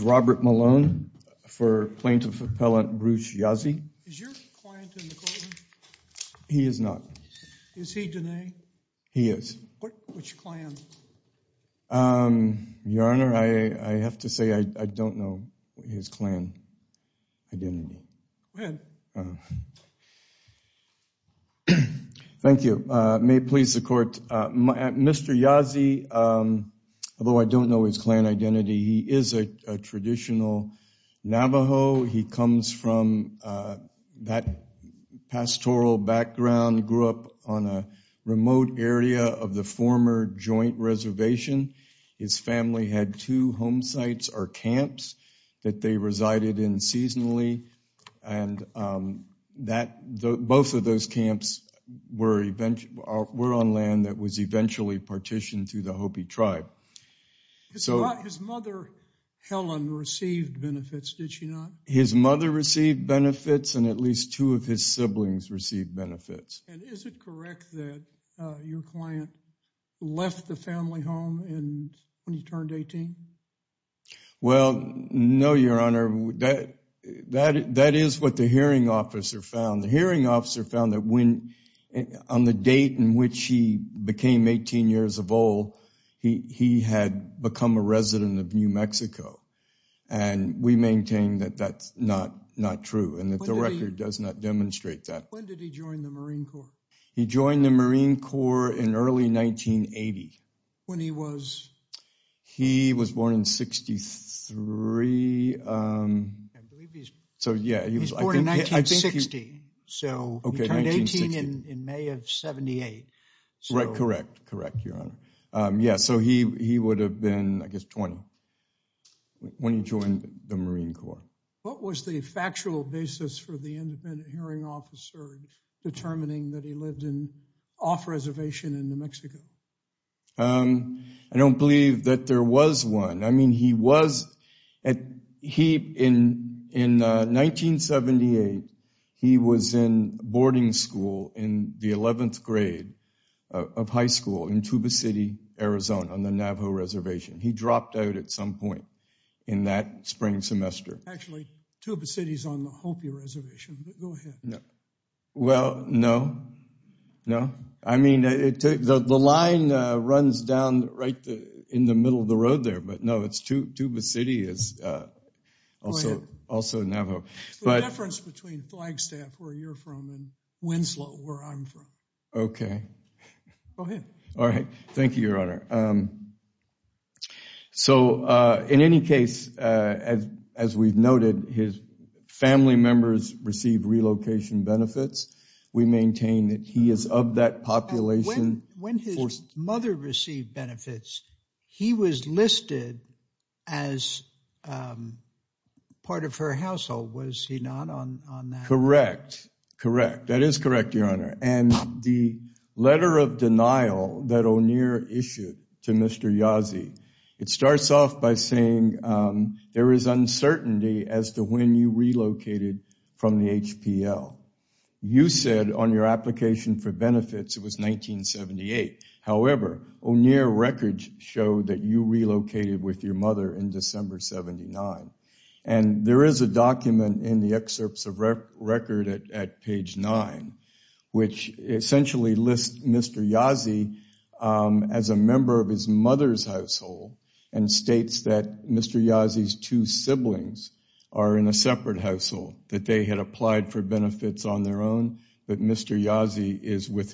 Robert Malone, Plaintiff Appellant Bruce Yazzie Is your client in the courtroom? He is not. Is he Dene? He is. Which clan? Your Honor, I have to say I don't know his clan identity. Go ahead. Thank you. May it please the court. Mr. Yazzie, although I don't know his clan identity, he is a traditional Navajo. He comes from that pastoral background, grew up on a remote area of the former joint reservation. His family had two home sites or camps that they resided in seasonally, and both of those camps were on land that Helen received benefits, did she not? His mother received benefits and at least two of his siblings received benefits. Is it correct that your client left the family home when he turned 18? Well, no, Your Honor. That is what the hearing officer found. The hearing officer found that when on the date in he had become a resident of New Mexico, and we maintain that that's not true, and that the record does not demonstrate that. When did he join the Marine Corps? He joined the Marine Corps in early 1980. When he was? He was born in 63, so yeah. He was born in 1960, so he turned 18 in May of 78. Right, correct, correct, Your Honor. Yeah, so he would have been, I guess, 20 when he joined the Marine Corps. What was the factual basis for the independent hearing officer determining that he lived in off-reservation in New Mexico? I don't believe that there was one. I mean, he was, in 1978, he was in boarding school in the 11th grade of high school in Tuba City, Arizona on the Navajo Reservation. He dropped out at some point in that spring semester. Actually, Tuba City's on the Hopia Reservation, but go ahead. Well, no, no. I mean, the line runs down right in the middle of the road there, but no, it's Tuba City, also Navajo. It's the difference between Flagstaff, where you're from, and Winslow, where I'm from. Okay. Go ahead. All right, thank you, Your Honor. So in any case, as we've noted, his family members received relocation benefits. We maintain that he was part of her household. Was he not on that? Correct, correct. That is correct, Your Honor. And the letter of denial that O'Neill issued to Mr. Yazzie, it starts off by saying there is uncertainty as to when you relocated from the HPL. You said on your application for benefits, it was 1978. However, O'Neill records show that you relocated with your mother in December 79. And there is a document in the excerpts of record at page 9, which essentially lists Mr. Yazzie as a member of his mother's household and states that Mr. Yazzie's two siblings are in a separate household, that they had applied for benefits on their own, but Mr. Yazzie is with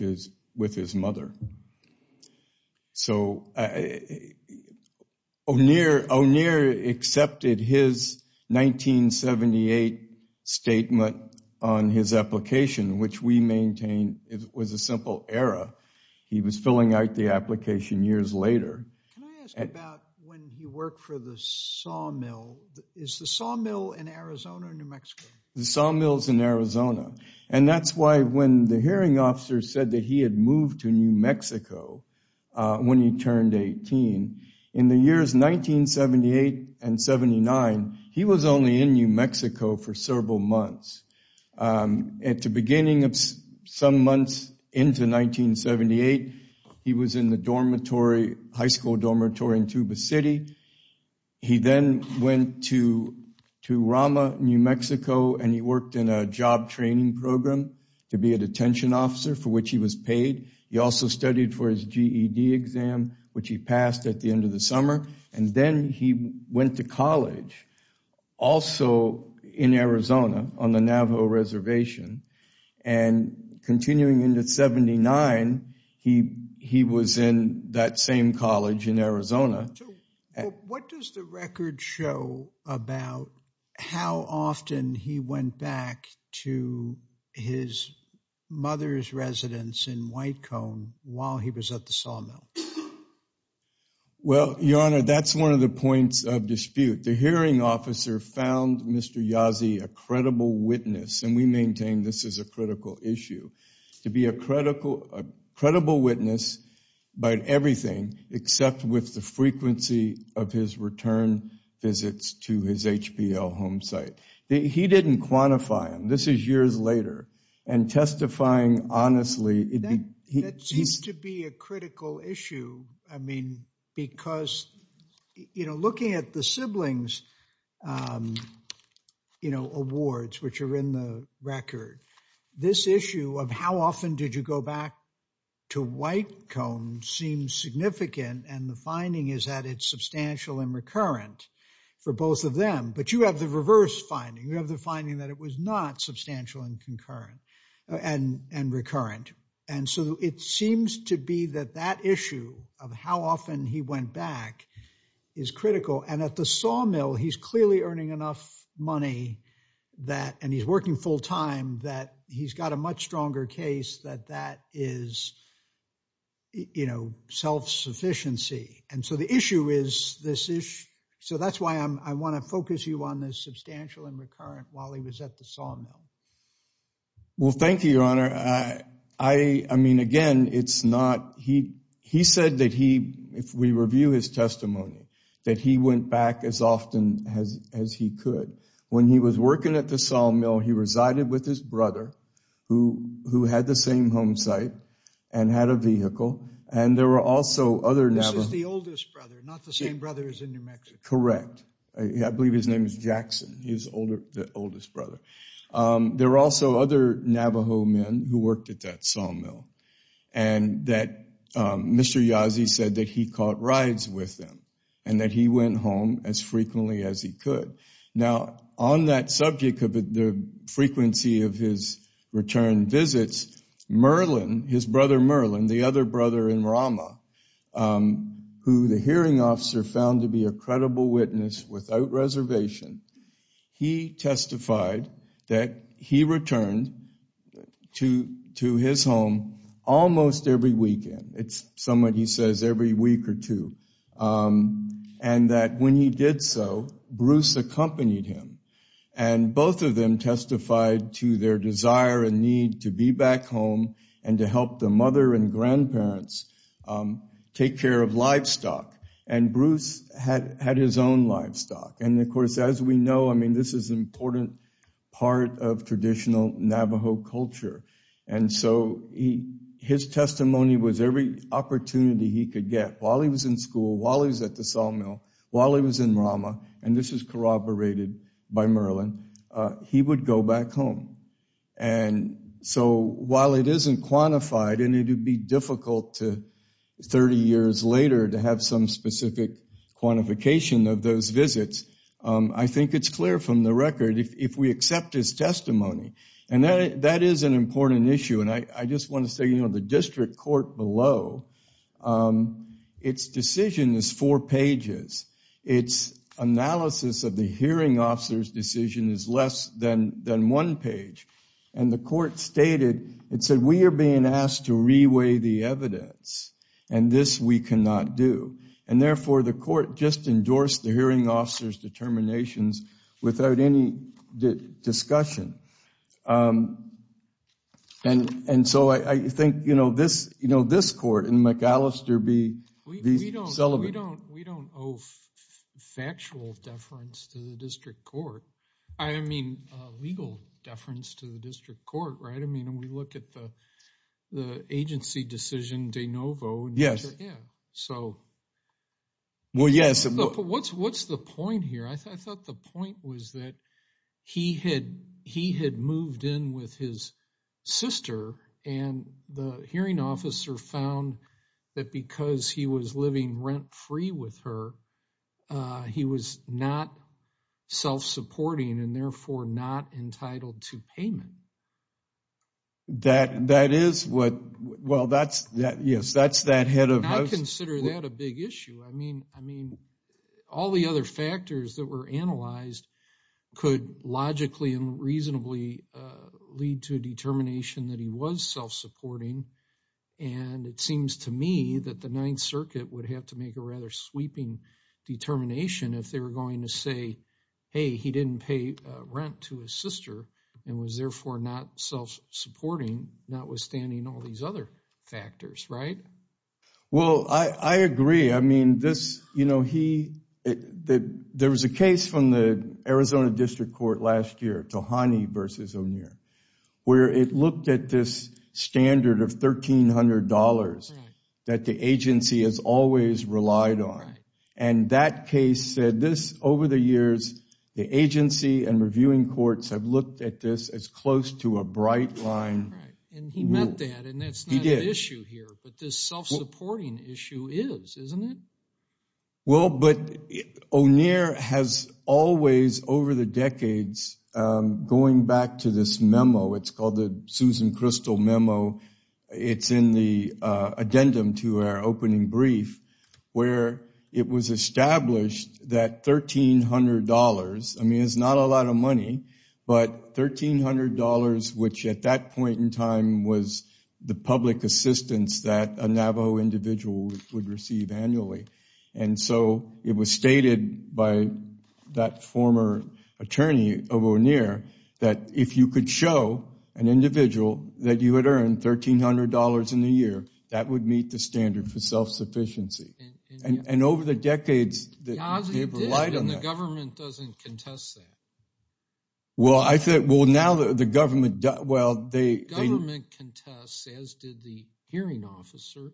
his mother. So O'Neill accepted his 1978 statement on his application, which we maintain it was a simple error. He was filling out the application years later. Can I ask about when he worked for the sawmill? Is the sawmill in Arizona or New Mexico? The sawmill is in Arizona. And that's why when the hearing officer said that he had moved to New Mexico when he turned 18, in the years 1978 and 79, he was only in New Mexico for several months. At the beginning of some months into 1978, he was in the dormitory, high school dormitory in Tuba City. He then went to New Mexico and he worked in a job training program to be a detention officer, for which he was paid. He also studied for his GED exam, which he passed at the end of the summer. And then he went to college, also in Arizona on the Navajo Reservation. And continuing into 79, he was in that same college in Arizona. What does the record show about how often he went back to his mother's residence in White Cone while he was at the sawmill? Well, Your Honor, that's one of the points of dispute. The hearing officer found Mr. Yazzie a credible witness, and we maintain this is a critical issue, to be a credible witness about everything except with the frequency of his return visits to his HPL home site. He didn't quantify him. This is years later, and testifying honestly... That seems to be a critical issue, I mean, because, you know, looking at the siblings, you know, awards, which are in the record, this issue of how often did you go back to White Cone seems significant, and the finding is that it's substantial and recurrent for both of them. But you have the reverse finding. You have the finding that it was not substantial and concurrent and recurrent. And so it seems to be that that issue of how often he went back is critical. And at the sawmill, he's clearly earning enough money, and he's working full-time, that he's got a much stronger case that that is, you know, self-sufficiency. And so the issue is this issue. So that's why I want to focus you on the substantial and recurrent while he was at the sawmill. Well, thank you, Your Honor. I mean, again, it's not... He said that he, if we review his testimony, that he went back as often as he could. When he was working at the sawmill, he resided with his brother, who had the same home site and had a vehicle, and there were also other Navajo... This is the oldest brother, not the same brother as in New Mexico. Correct. I believe his name is Jackson. He's the oldest brother. There were also other Navajo men who worked at that sawmill, and that Mr. Yazzie said that he caught rides with them, and that he went home as frequently as he could. Now, on that subject of the frequency of his return visits, Merlin, his brother Merlin, the other brother in Rama, who the hearing officer found to be a credible witness without reservation, he testified that he returned to his home almost every week or two, and that when he did so, Bruce accompanied him, and both of them testified to their desire and need to be back home and to help the mother and grandparents take care of livestock, and Bruce had his own livestock. And, of course, as we know, I mean, this is an important part of traditional Navajo culture, and so his testimony was every opportunity he could get. While he was in school, while he was at the sawmill, while he was in Rama, and this is corroborated by Merlin, he would go back home. And so while it isn't quantified, and it would be difficult to, 30 years later, to have some specific quantification of those visits, I think it's clear from the record, if we accept his testimony, and that is an important issue, and I just want to say, you know, the district court below, its decision is four pages. Its analysis of the hearing officer's decision is less than one page, and the court stated, it said, we are being asked to reweigh the evidence, and this we cannot do. And therefore, the court just endorsed the hearing officer's determinations without any discussion. And so I think, you know, this, you know, this court and McAllister be celibate. We don't owe factual deference to the district court. I mean, legal deference to the district court, right? I mean, we look at the agency decision, De Novo. Yes. Yeah, so. Well, yes. What's the point here? I thought the point was that he had, he had moved in with his sister, and the hearing officer found that because he was living rent-free with her, he was not self-supporting, and therefore not entitled to payment. That, that is what, well, that's, yes, that's that head of house. I consider that a big issue. I mean, I mean, all the other factors that were analyzed could logically and reasonably lead to a determination that he was self-supporting, and it seems to me that the Ninth Circuit would have to make a rather sweeping determination if they were going to say, hey, he didn't pay rent to his sister and was therefore not self-supporting, notwithstanding all these other factors, right? Well, I, I agree. I mean, this, you know, he, there was a case from the Arizona District Court last year, Tohane versus O'Neill, where it looked at this standard of $1,300 that the agency has always relied on, and that case said this, over the years, the agency and reviewing courts have looked at this as close to a bright line. And he meant that, and that's not an issue here, but this self-supporting issue is, isn't it? Well, but O'Neill has always, over the decades, going back to this memo, it's called the Susan Crystal memo, it's in the addendum to our opening brief, where it was established that $1,300, I mean, it's not a lot of money, but $1,300, which at that point in time was the public assistance that a Navajo individual would receive annually. And so it was stated by that former attorney of O'Neill that if you could show an individual that you had earned $1,300 in a year, that would meet the standard for self-sufficiency. And, and over the decades they've relied on that. The government doesn't contest that. Well, I think, well, now the government, well, they... The government contests, as did the hearing officer,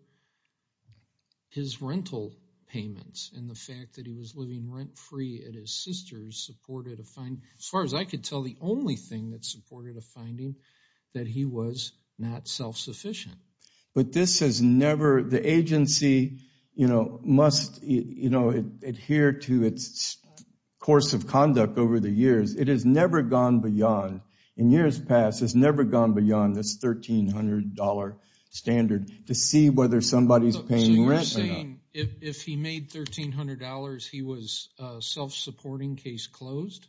his rental payments and the fact that he was living rent-free at his sister's supported a finding, as far as I could tell, the only thing that supported a finding, that he was not self-sufficient. But this has never, the agency, you know, must, you know, adhere to its course of conduct over the years. It has never gone beyond, in years past, it's never gone beyond this $1,300 standard to see whether somebody's paying rent or not. So you're saying if he made $1,300, he was a self-supporting case closed?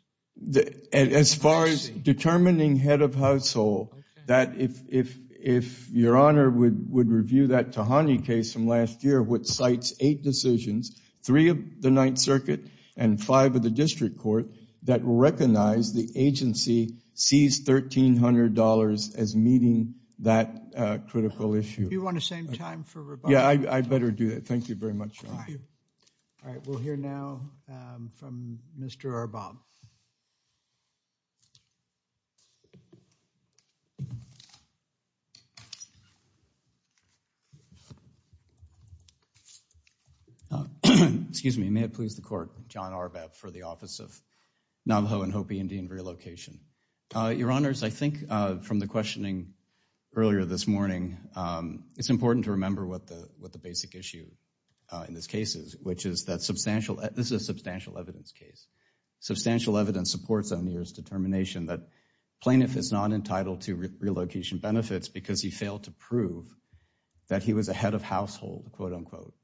As far as determining head of household, that if, if, if your honor would, would review that which cites eight decisions, three of the Ninth Circuit and five of the District Court, that recognize the agency sees $1,300 as meeting that critical issue. Do you want to same time for rebuttal? Yeah, I better do that. Thank you very much. All right, we'll hear now from Mr. Arbab. Excuse me, may it please the court, John Arbab for the Office of Navajo and Hopi Indian Relocation. Your honors, I think from the questioning earlier this morning, it's important to remember what the, what the basic issue in this case is, which is that substantial, this is a substantial evidence case. Substantial evidence supports O'Neill's determination that plaintiff is not entitled to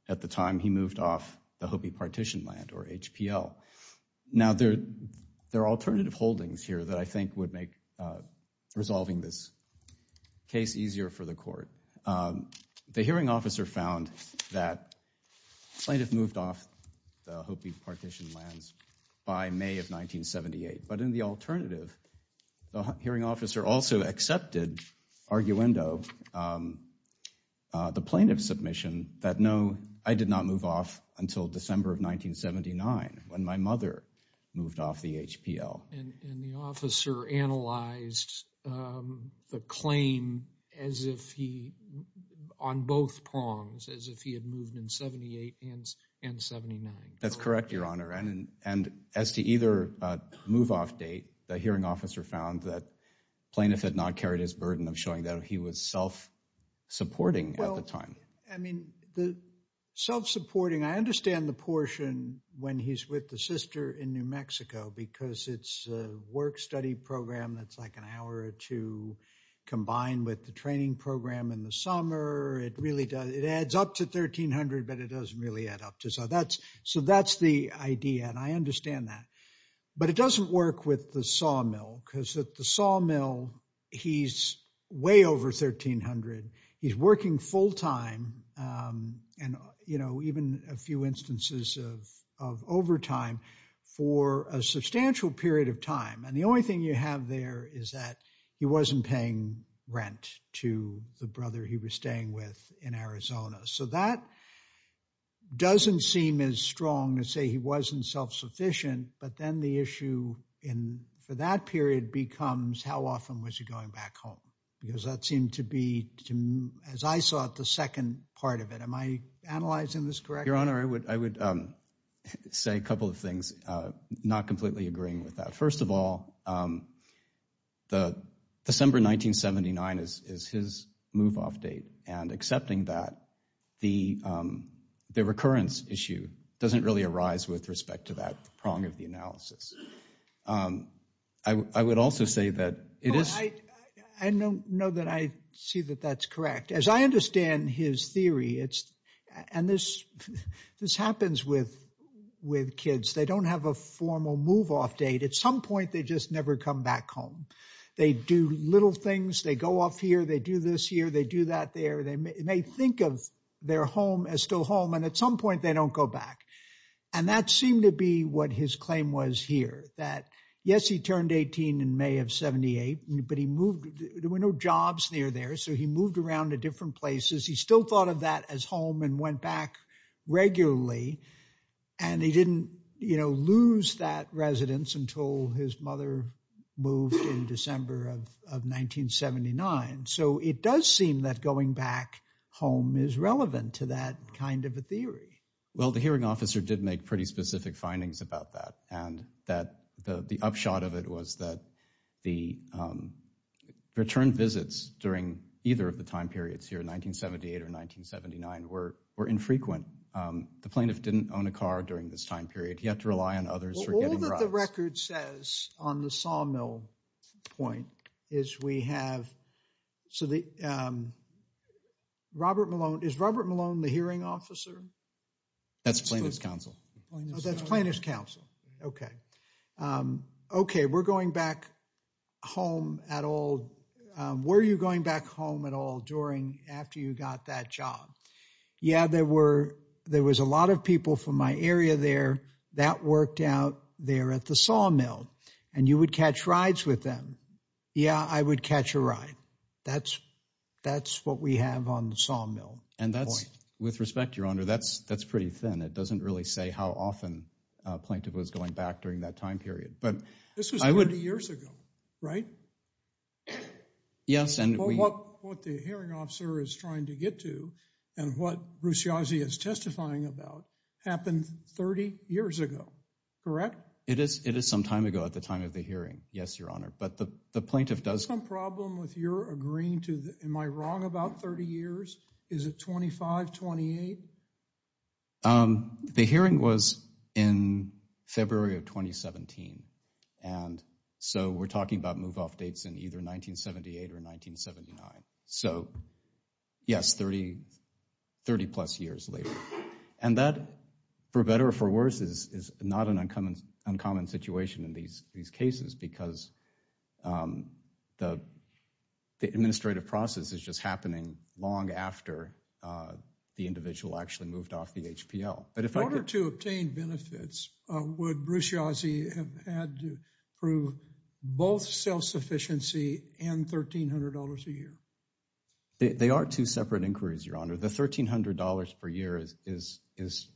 at the time he moved off the Hopi partition land or HPL. Now there, there are alternative holdings here that I think would make resolving this case easier for the court. The hearing officer found that plaintiff moved off the Hopi partition lands by May of 1978. But in the alternative, the hearing officer also accepted, arguendo, the plaintiff's submission that no, I did not move off until December of 1979 when my mother moved off the HPL. And the officer analyzed the claim as if he, on both prongs, as if he had moved in 78 and 79. That's correct, your honor. And, and as to either move off date, the hearing officer found that plaintiff had not carried his burden of showing that he was self-supporting at the time. I mean, the self-supporting, I understand the portion when he's with the sister in New Mexico, because it's a work study program that's like an hour or two combined with the training program in the summer. It really does, it adds up to 1300, but it doesn't really add up to. So that's, so that's the idea. And I understand that, but it doesn't work with the sawmill because at the sawmill, he's way over 1300. He's working full-time. And, you know, even a few instances of, of overtime for a substantial period of time. And the only thing you have there is that he wasn't paying rent to the brother he was staying with in Arizona. So that doesn't seem as strong to say he wasn't self-sufficient, but then the issue in, for that period becomes how often was he going back home? Because that seemed to be, as I saw it, the second part of it. Am I analyzing this correctly? Your honor, I would, I would say a couple of things, not completely agreeing with that. First of all, the December 1979 is his move-off date. And accepting that, the, the recurrence issue doesn't really arise with respect to that prong of the analysis. I would also say that it is. I know, know that I see that that's correct. As I understand his theory, it's, and this, this happens with, with kids. They don't have a formal move-off date. At some point, they just never come back home. They do little things. They go off here. They do this here. They do that there. They may think of their home as still home. And at some point they don't go back. And that seemed to be what his claim was here, that yes, he turned 18 in May of 78, but he moved, there were no jobs near there. So he moved around to different places. He still thought of that as home and went back regularly. And he didn't, you know, lose that residence until his mother moved in December of, of 1979. So it does seem that going back home is relevant to that kind of a theory. Well, the hearing officer did make pretty specific findings about that. And that the, the upshot of it was that the return visits during either of the time periods here in 1978 or 1979 were, were infrequent. The plaintiff didn't own a car during this time period. He had to rely on others for getting rides. All that the record says on the Sawmill point is we have, so the, Robert Malone, is Robert Malone the hearing officer? That's plaintiff's counsel. Oh, that's plaintiff's counsel. Okay. Okay. We're going back home at all. Were you going back home at all during, after you got that job? Yeah, there were, there was a lot of people from my area there that worked out there at the Sawmill and you would catch rides with them. Yeah, I would catch a ride. That's, that's what we have on the Sawmill. And that's, with respect, Your Honor, that's, that's pretty thin. It doesn't really say how often a plaintiff was going back during that time period. But this was 30 years ago, right? Yes. And what, what the hearing officer is trying to get to and what Bruce Yazzie is testifying about happened 30 years ago, correct? It is, it is some time ago at the time of the hearing. Yes, Your Honor. But the, the plaintiff does. Problem with your agreeing to, am I wrong about 30 years? Is it 25, 28? The hearing was in February of 2017. And so we're talking about move off dates in either 1978 or 1979. So yes, 30, 30 plus years later. And that for better or for worse is, is not an uncommon, uncommon situation in these, these cases because the, the administrative process is just happening long after the individual actually moved off the HPL. But if I were to obtain benefits, would Bruce Yazzie have had to prove both self-sufficiency and $1,300 a year? They are two separate inquiries, Your Honor. The $1,300 per year is, is, is,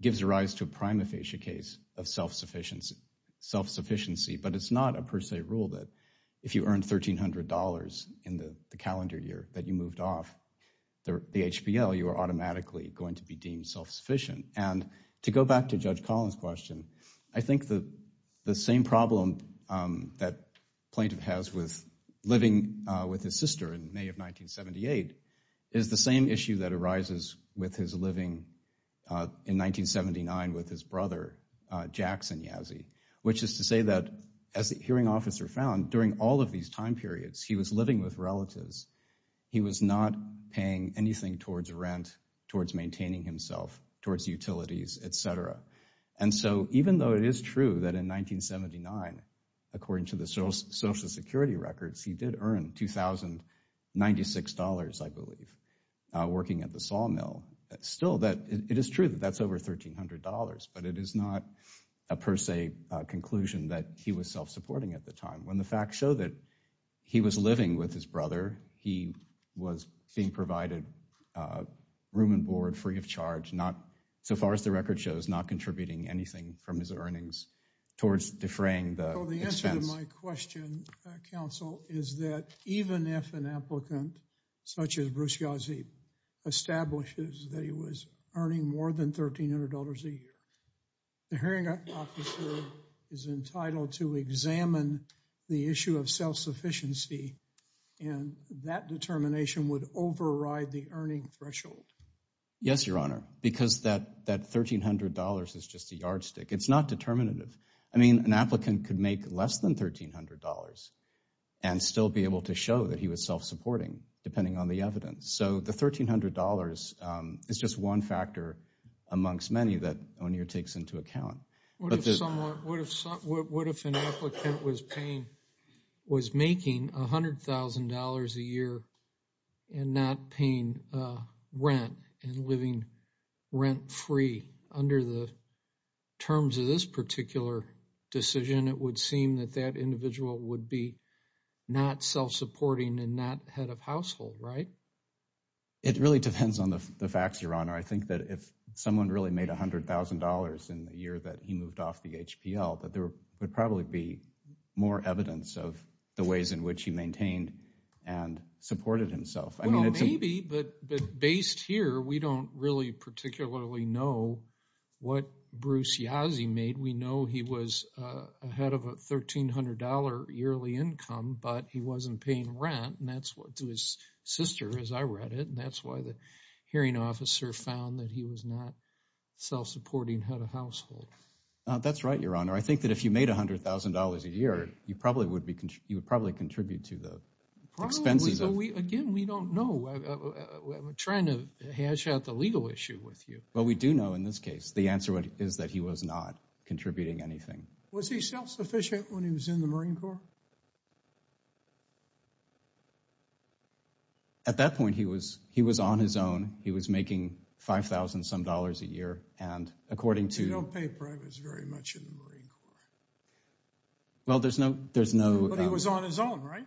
gives rise to a prima facie case of self-sufficiency, self-sufficiency, but it's not a per se rule that if you earned $1,300 in the calendar year that you moved off the HPL, you are automatically going to be deemed self-sufficient. And to go back to Judge Collins' question, I think the, the same problem that plaintiff has with living with his sister in May of 1978 is the same issue that arises with his living in 1979 with his brother, Jackson Yazzie, which is to say that as the hearing officer found during all of these time periods, he was living with relatives. He was not paying anything towards rent, towards maintaining himself, towards utilities, etc. And so even though it is true that in 1979, according to the social security records, he did earn $2,096, I believe, working at the sawmill, still that, it is true that that's over $1,300, but it is not a per se conclusion that he was self-supporting at the time. When the facts show that he was living with his brother, he was being provided room and board free of charge, not, so far as the record shows, not contributing anything from his earnings towards defraying the expense. Well, the answer to my question, counsel, is that even if an applicant such as Bruce Yazzie establishes that he was earning more than $1,300 a year, the hearing officer is entitled to examine the issue of self-sufficiency and that determination would override the earning threshold. Yes, Your Honor, because that $1,300 is just a yardstick. It's not determinative. I mean, an applicant could make less than $1,300 and still be able to show that he was self-supporting, depending on the evidence. So the $1,300 is just one factor amongst many that O'Neill takes into account. What if an applicant was making $100,000 a year and not paying rent and living rent-free under the terms of this particular decision? It would seem that that individual would be not self-supporting and not head of household, right? It really depends on the facts, Your Honor. I think that if someone really made $100,000 in the year that he moved off the HPL, that there would probably be more evidence of the ways in which he maintained and supported himself. Well, maybe, but based here, we don't really particularly know what Bruce Yazzie made. We know he was ahead of a $1,300 yearly income, but he wasn't paying rent and that's what his sister, as I read it, and that's why the hearing officer found that he was not self-supporting head of household. That's right, Your Honor. I think that if you made $100,000 a year, you would probably be more than self-supporting head of household. Well, we do know in this case, the answer is that he was not contributing anything. Was he self-sufficient when he was in the Marine Corps? At that point, he was on his own. He was making $5,000 some dollars a year and according to... You don't pay privates very much in the Marine Corps. Well, there's no... But he was on his own, right?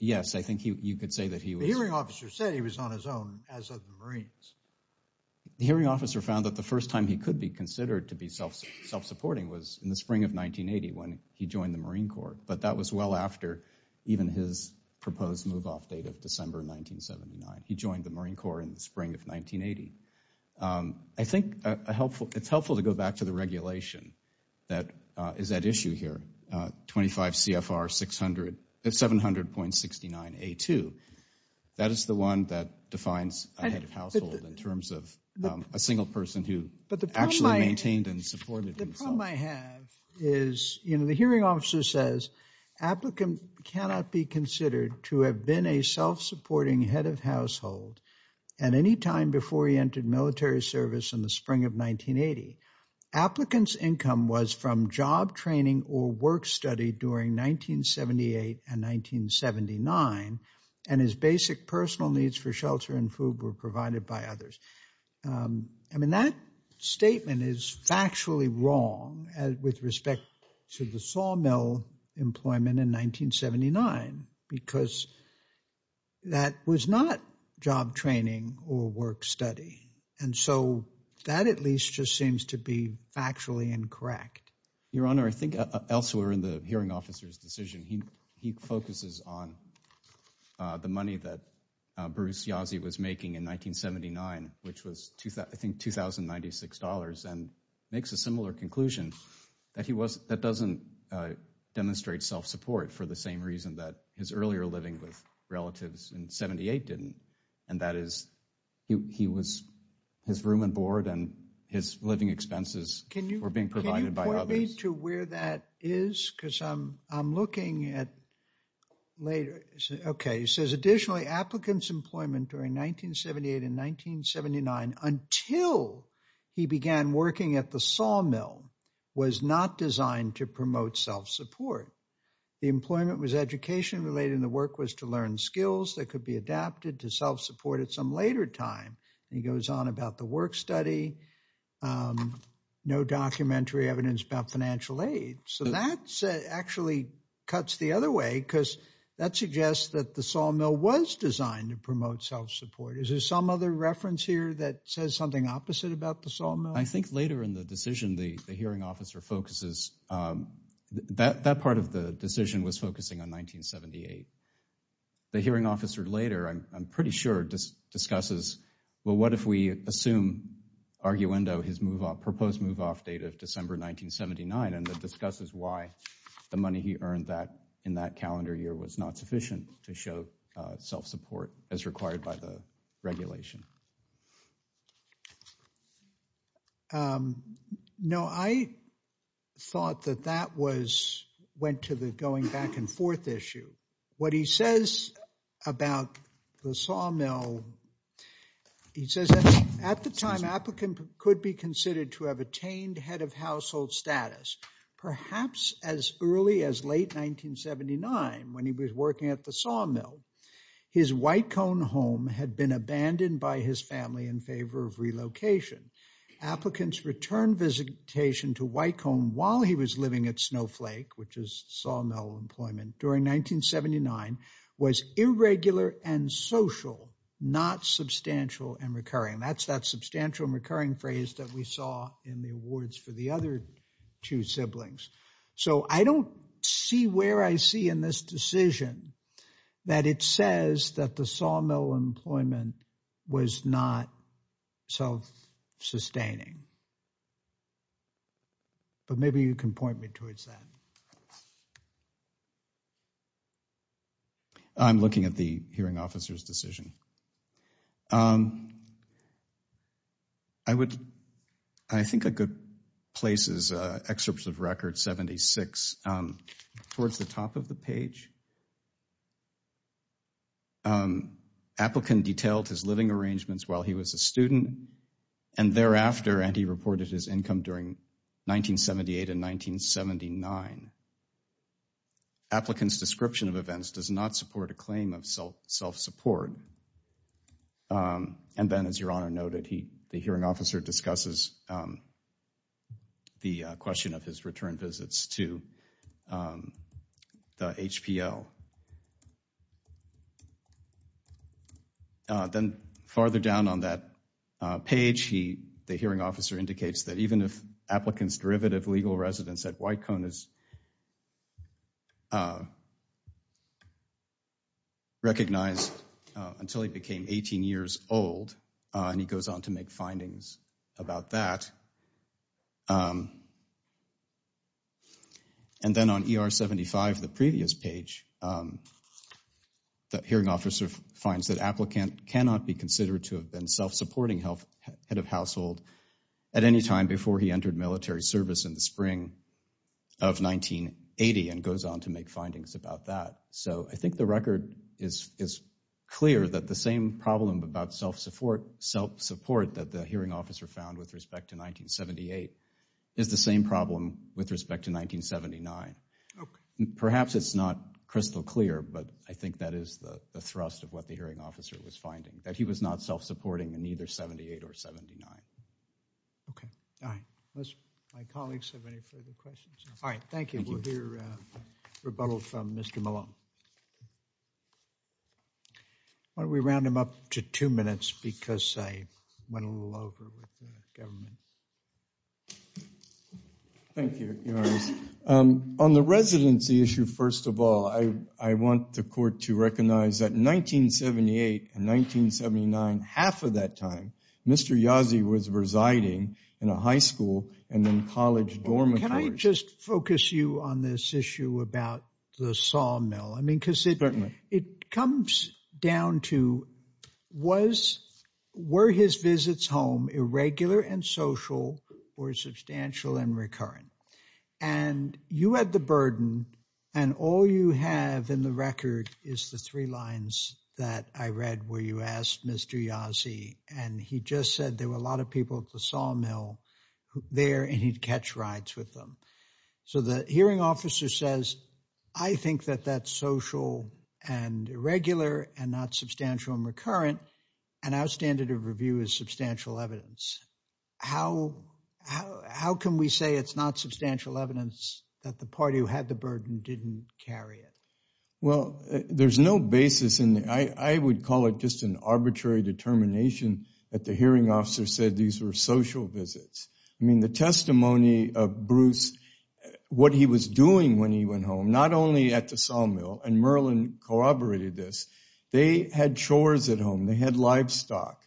Yes, I think you could say that he was... The hearing officer said he was on his own as of the Marines. The hearing officer found that the first time he could be considered to be self-supporting was in the spring of 1980 when he joined the Marine Corps, but that was well after even his proposed move-off date of December 1979. He joined the Marine Corps in the spring of 1980. I think it's helpful to go back to the regulation that is at issue here, 25 CFR 700.69A2. That is the one that defines a head of household in terms of a single person who actually maintained and supported himself. The problem I have is, you know, the hearing officer says, applicant cannot be considered to have been a self-supporting head of household at any time before he entered military service in the spring of 1980. Applicant's income was from job training or work study during 1978 and 1979, and his basic personal needs for shelter and food were provided by others. I mean, that statement is factually wrong with respect to the sawmill employment in 1979, because that was not job training or work study, and so that at least just seems to be factually incorrect. Your Honor, I think elsewhere in the hearing officer's decision, he focuses on the money that Bruce Yazzie was making in 1979, which was, I think, $2,096, and makes a similar conclusion that he was, that doesn't demonstrate self-support for the same reason that his earlier living with relatives in 78 didn't, and that is, he was, his room and board and his living expenses were being provided by others. Can you point me to where that is? Because I'm looking at later. Okay, he says, additionally, applicants' employment during 1978 and 1979, until he began working at the sawmill, was not designed to promote self-support. The employment was education-related, and the work was to learn skills that could be adapted to self-support at some later time. He goes on about the work study, no documentary evidence about financial aid. So that actually cuts the other way, because that suggests that the sawmill was designed to promote self-support. Is there some other reference here that says something opposite about the sawmill? I think later in the decision, the hearing officer focuses, that part of the decision was focusing on 1978. The hearing officer later, I'm pretty sure, discusses, well, what if we assume, arguendo, his proposed move-off date of December 1979, and that discusses why the money he earned in that calendar year was not sufficient to show self-support as required by the regulation. No, I thought that that went to the going back and forth issue. What he says about the sawmill, he says that at the time, applicant could be considered to have attained head of household status. Perhaps as early as late 1979, when he was working at the sawmill, his White Cone home had been abandoned by his family in favor of relocation. Applicants returned visitation to White Cone while he was living at Snowflake, which is sawmill employment during 1979, was irregular and social, not substantial and recurring. That's that substantial and recurring phrase that we saw in the awards for the other two siblings. So I don't see where I see in this decision that it says that the sawmill employment was not self-sustaining. But maybe you can point me towards that. I'm looking at the hearing officer's decision. I would, I think a good place is excerpts of record 76 towards the top of the page. Applicant detailed his living arrangements while he was a student, and thereafter, and he reported his income during 1978 and 1979. Applicant's description of events does not support a claim of self-support. And then as your honor noted, the hearing officer discusses the question of his return visits to the HPL. And then farther down on that page, the hearing officer indicates that even if applicants' derivative legal residence at White Cone is recognized until he became 18 years old, and he goes on to make findings about that. And then on ER 75, the previous page, the hearing officer finds that applicant cannot be considered to have been self-supporting head of household at any time before he entered military service in the spring of 1980 and goes on to make findings about that. So I think the record is clear that the same problem about self-support that the hearing officer found with respect to 1978 is the same problem with respect to 1979. Perhaps it's not crystal clear, but I think that is the thrust of what the hearing officer was finding, that he was not self-supporting in either 78 or 79. Okay, all right. Unless my colleagues have any further questions. All right, thank you. Why don't we round them up to two minutes because I went a little over with the government. Thank you. On the residency issue, first of all, I want the court to recognize that in 1978 and 1979, half of that time, Mr. Yazzie was residing in a high school and then college dormitory. Can I just focus you on this issue about the sawmill? I mean, because it comes down to, were his visits home irregular and social or substantial and recurrent? And you had the burden and all you have in the record is the three lines that I read where you asked Mr. Yazzie, and he just said there were a lot of people at the sawmill there and he'd catch rides with them. So the hearing officer says, I think that that's social and irregular and not substantial and our standard of review is substantial evidence. How can we say it's not substantial evidence that the party who had the burden didn't carry it? Well, there's no basis in that. I would call it just an arbitrary determination that the hearing officer said these were social visits. I mean, the testimony of Bruce, what he was doing when he went home, not only at the sawmill, and Merlin corroborated this, they had chores at home. They had livestock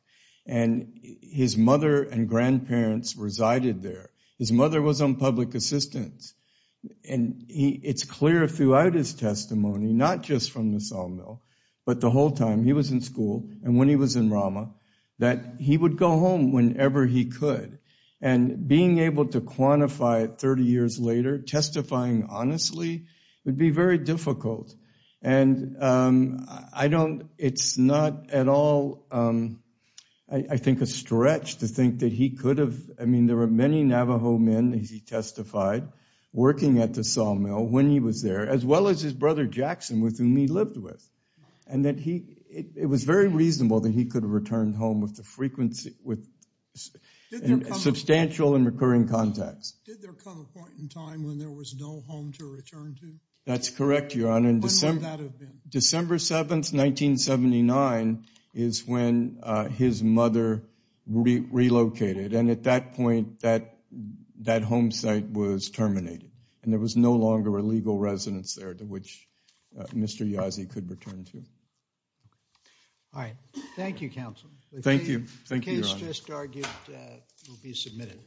and his mother and grandparents resided there. His mother was on public assistance. And it's clear throughout his testimony, not just from the sawmill, but the whole time he was in school and when he was in Rama, that he would go home whenever he could. And being able to quantify it 30 years later, testifying honestly, would be very difficult. And I don't, it's not at all, I think, a stretch to think that he could have, I mean, there were many Navajo men, as he testified, working at the sawmill when he was there, as well as his brother Jackson with whom he lived with. And that he, it was very reasonable that he could have returned home with the frequency, with substantial and recurring contacts. Did there come a point in time when there was no home to return to? That's correct, Your Honor. When would that have been? December 7th, 1979, is when his mother relocated. And at that point, that home site was terminated. And there was no longer a legal residence there to which Mr. Yazzie could return to. All right. Thank you, counsel. Thank you. Thank you, Your Honor. The case just argued will be submitted.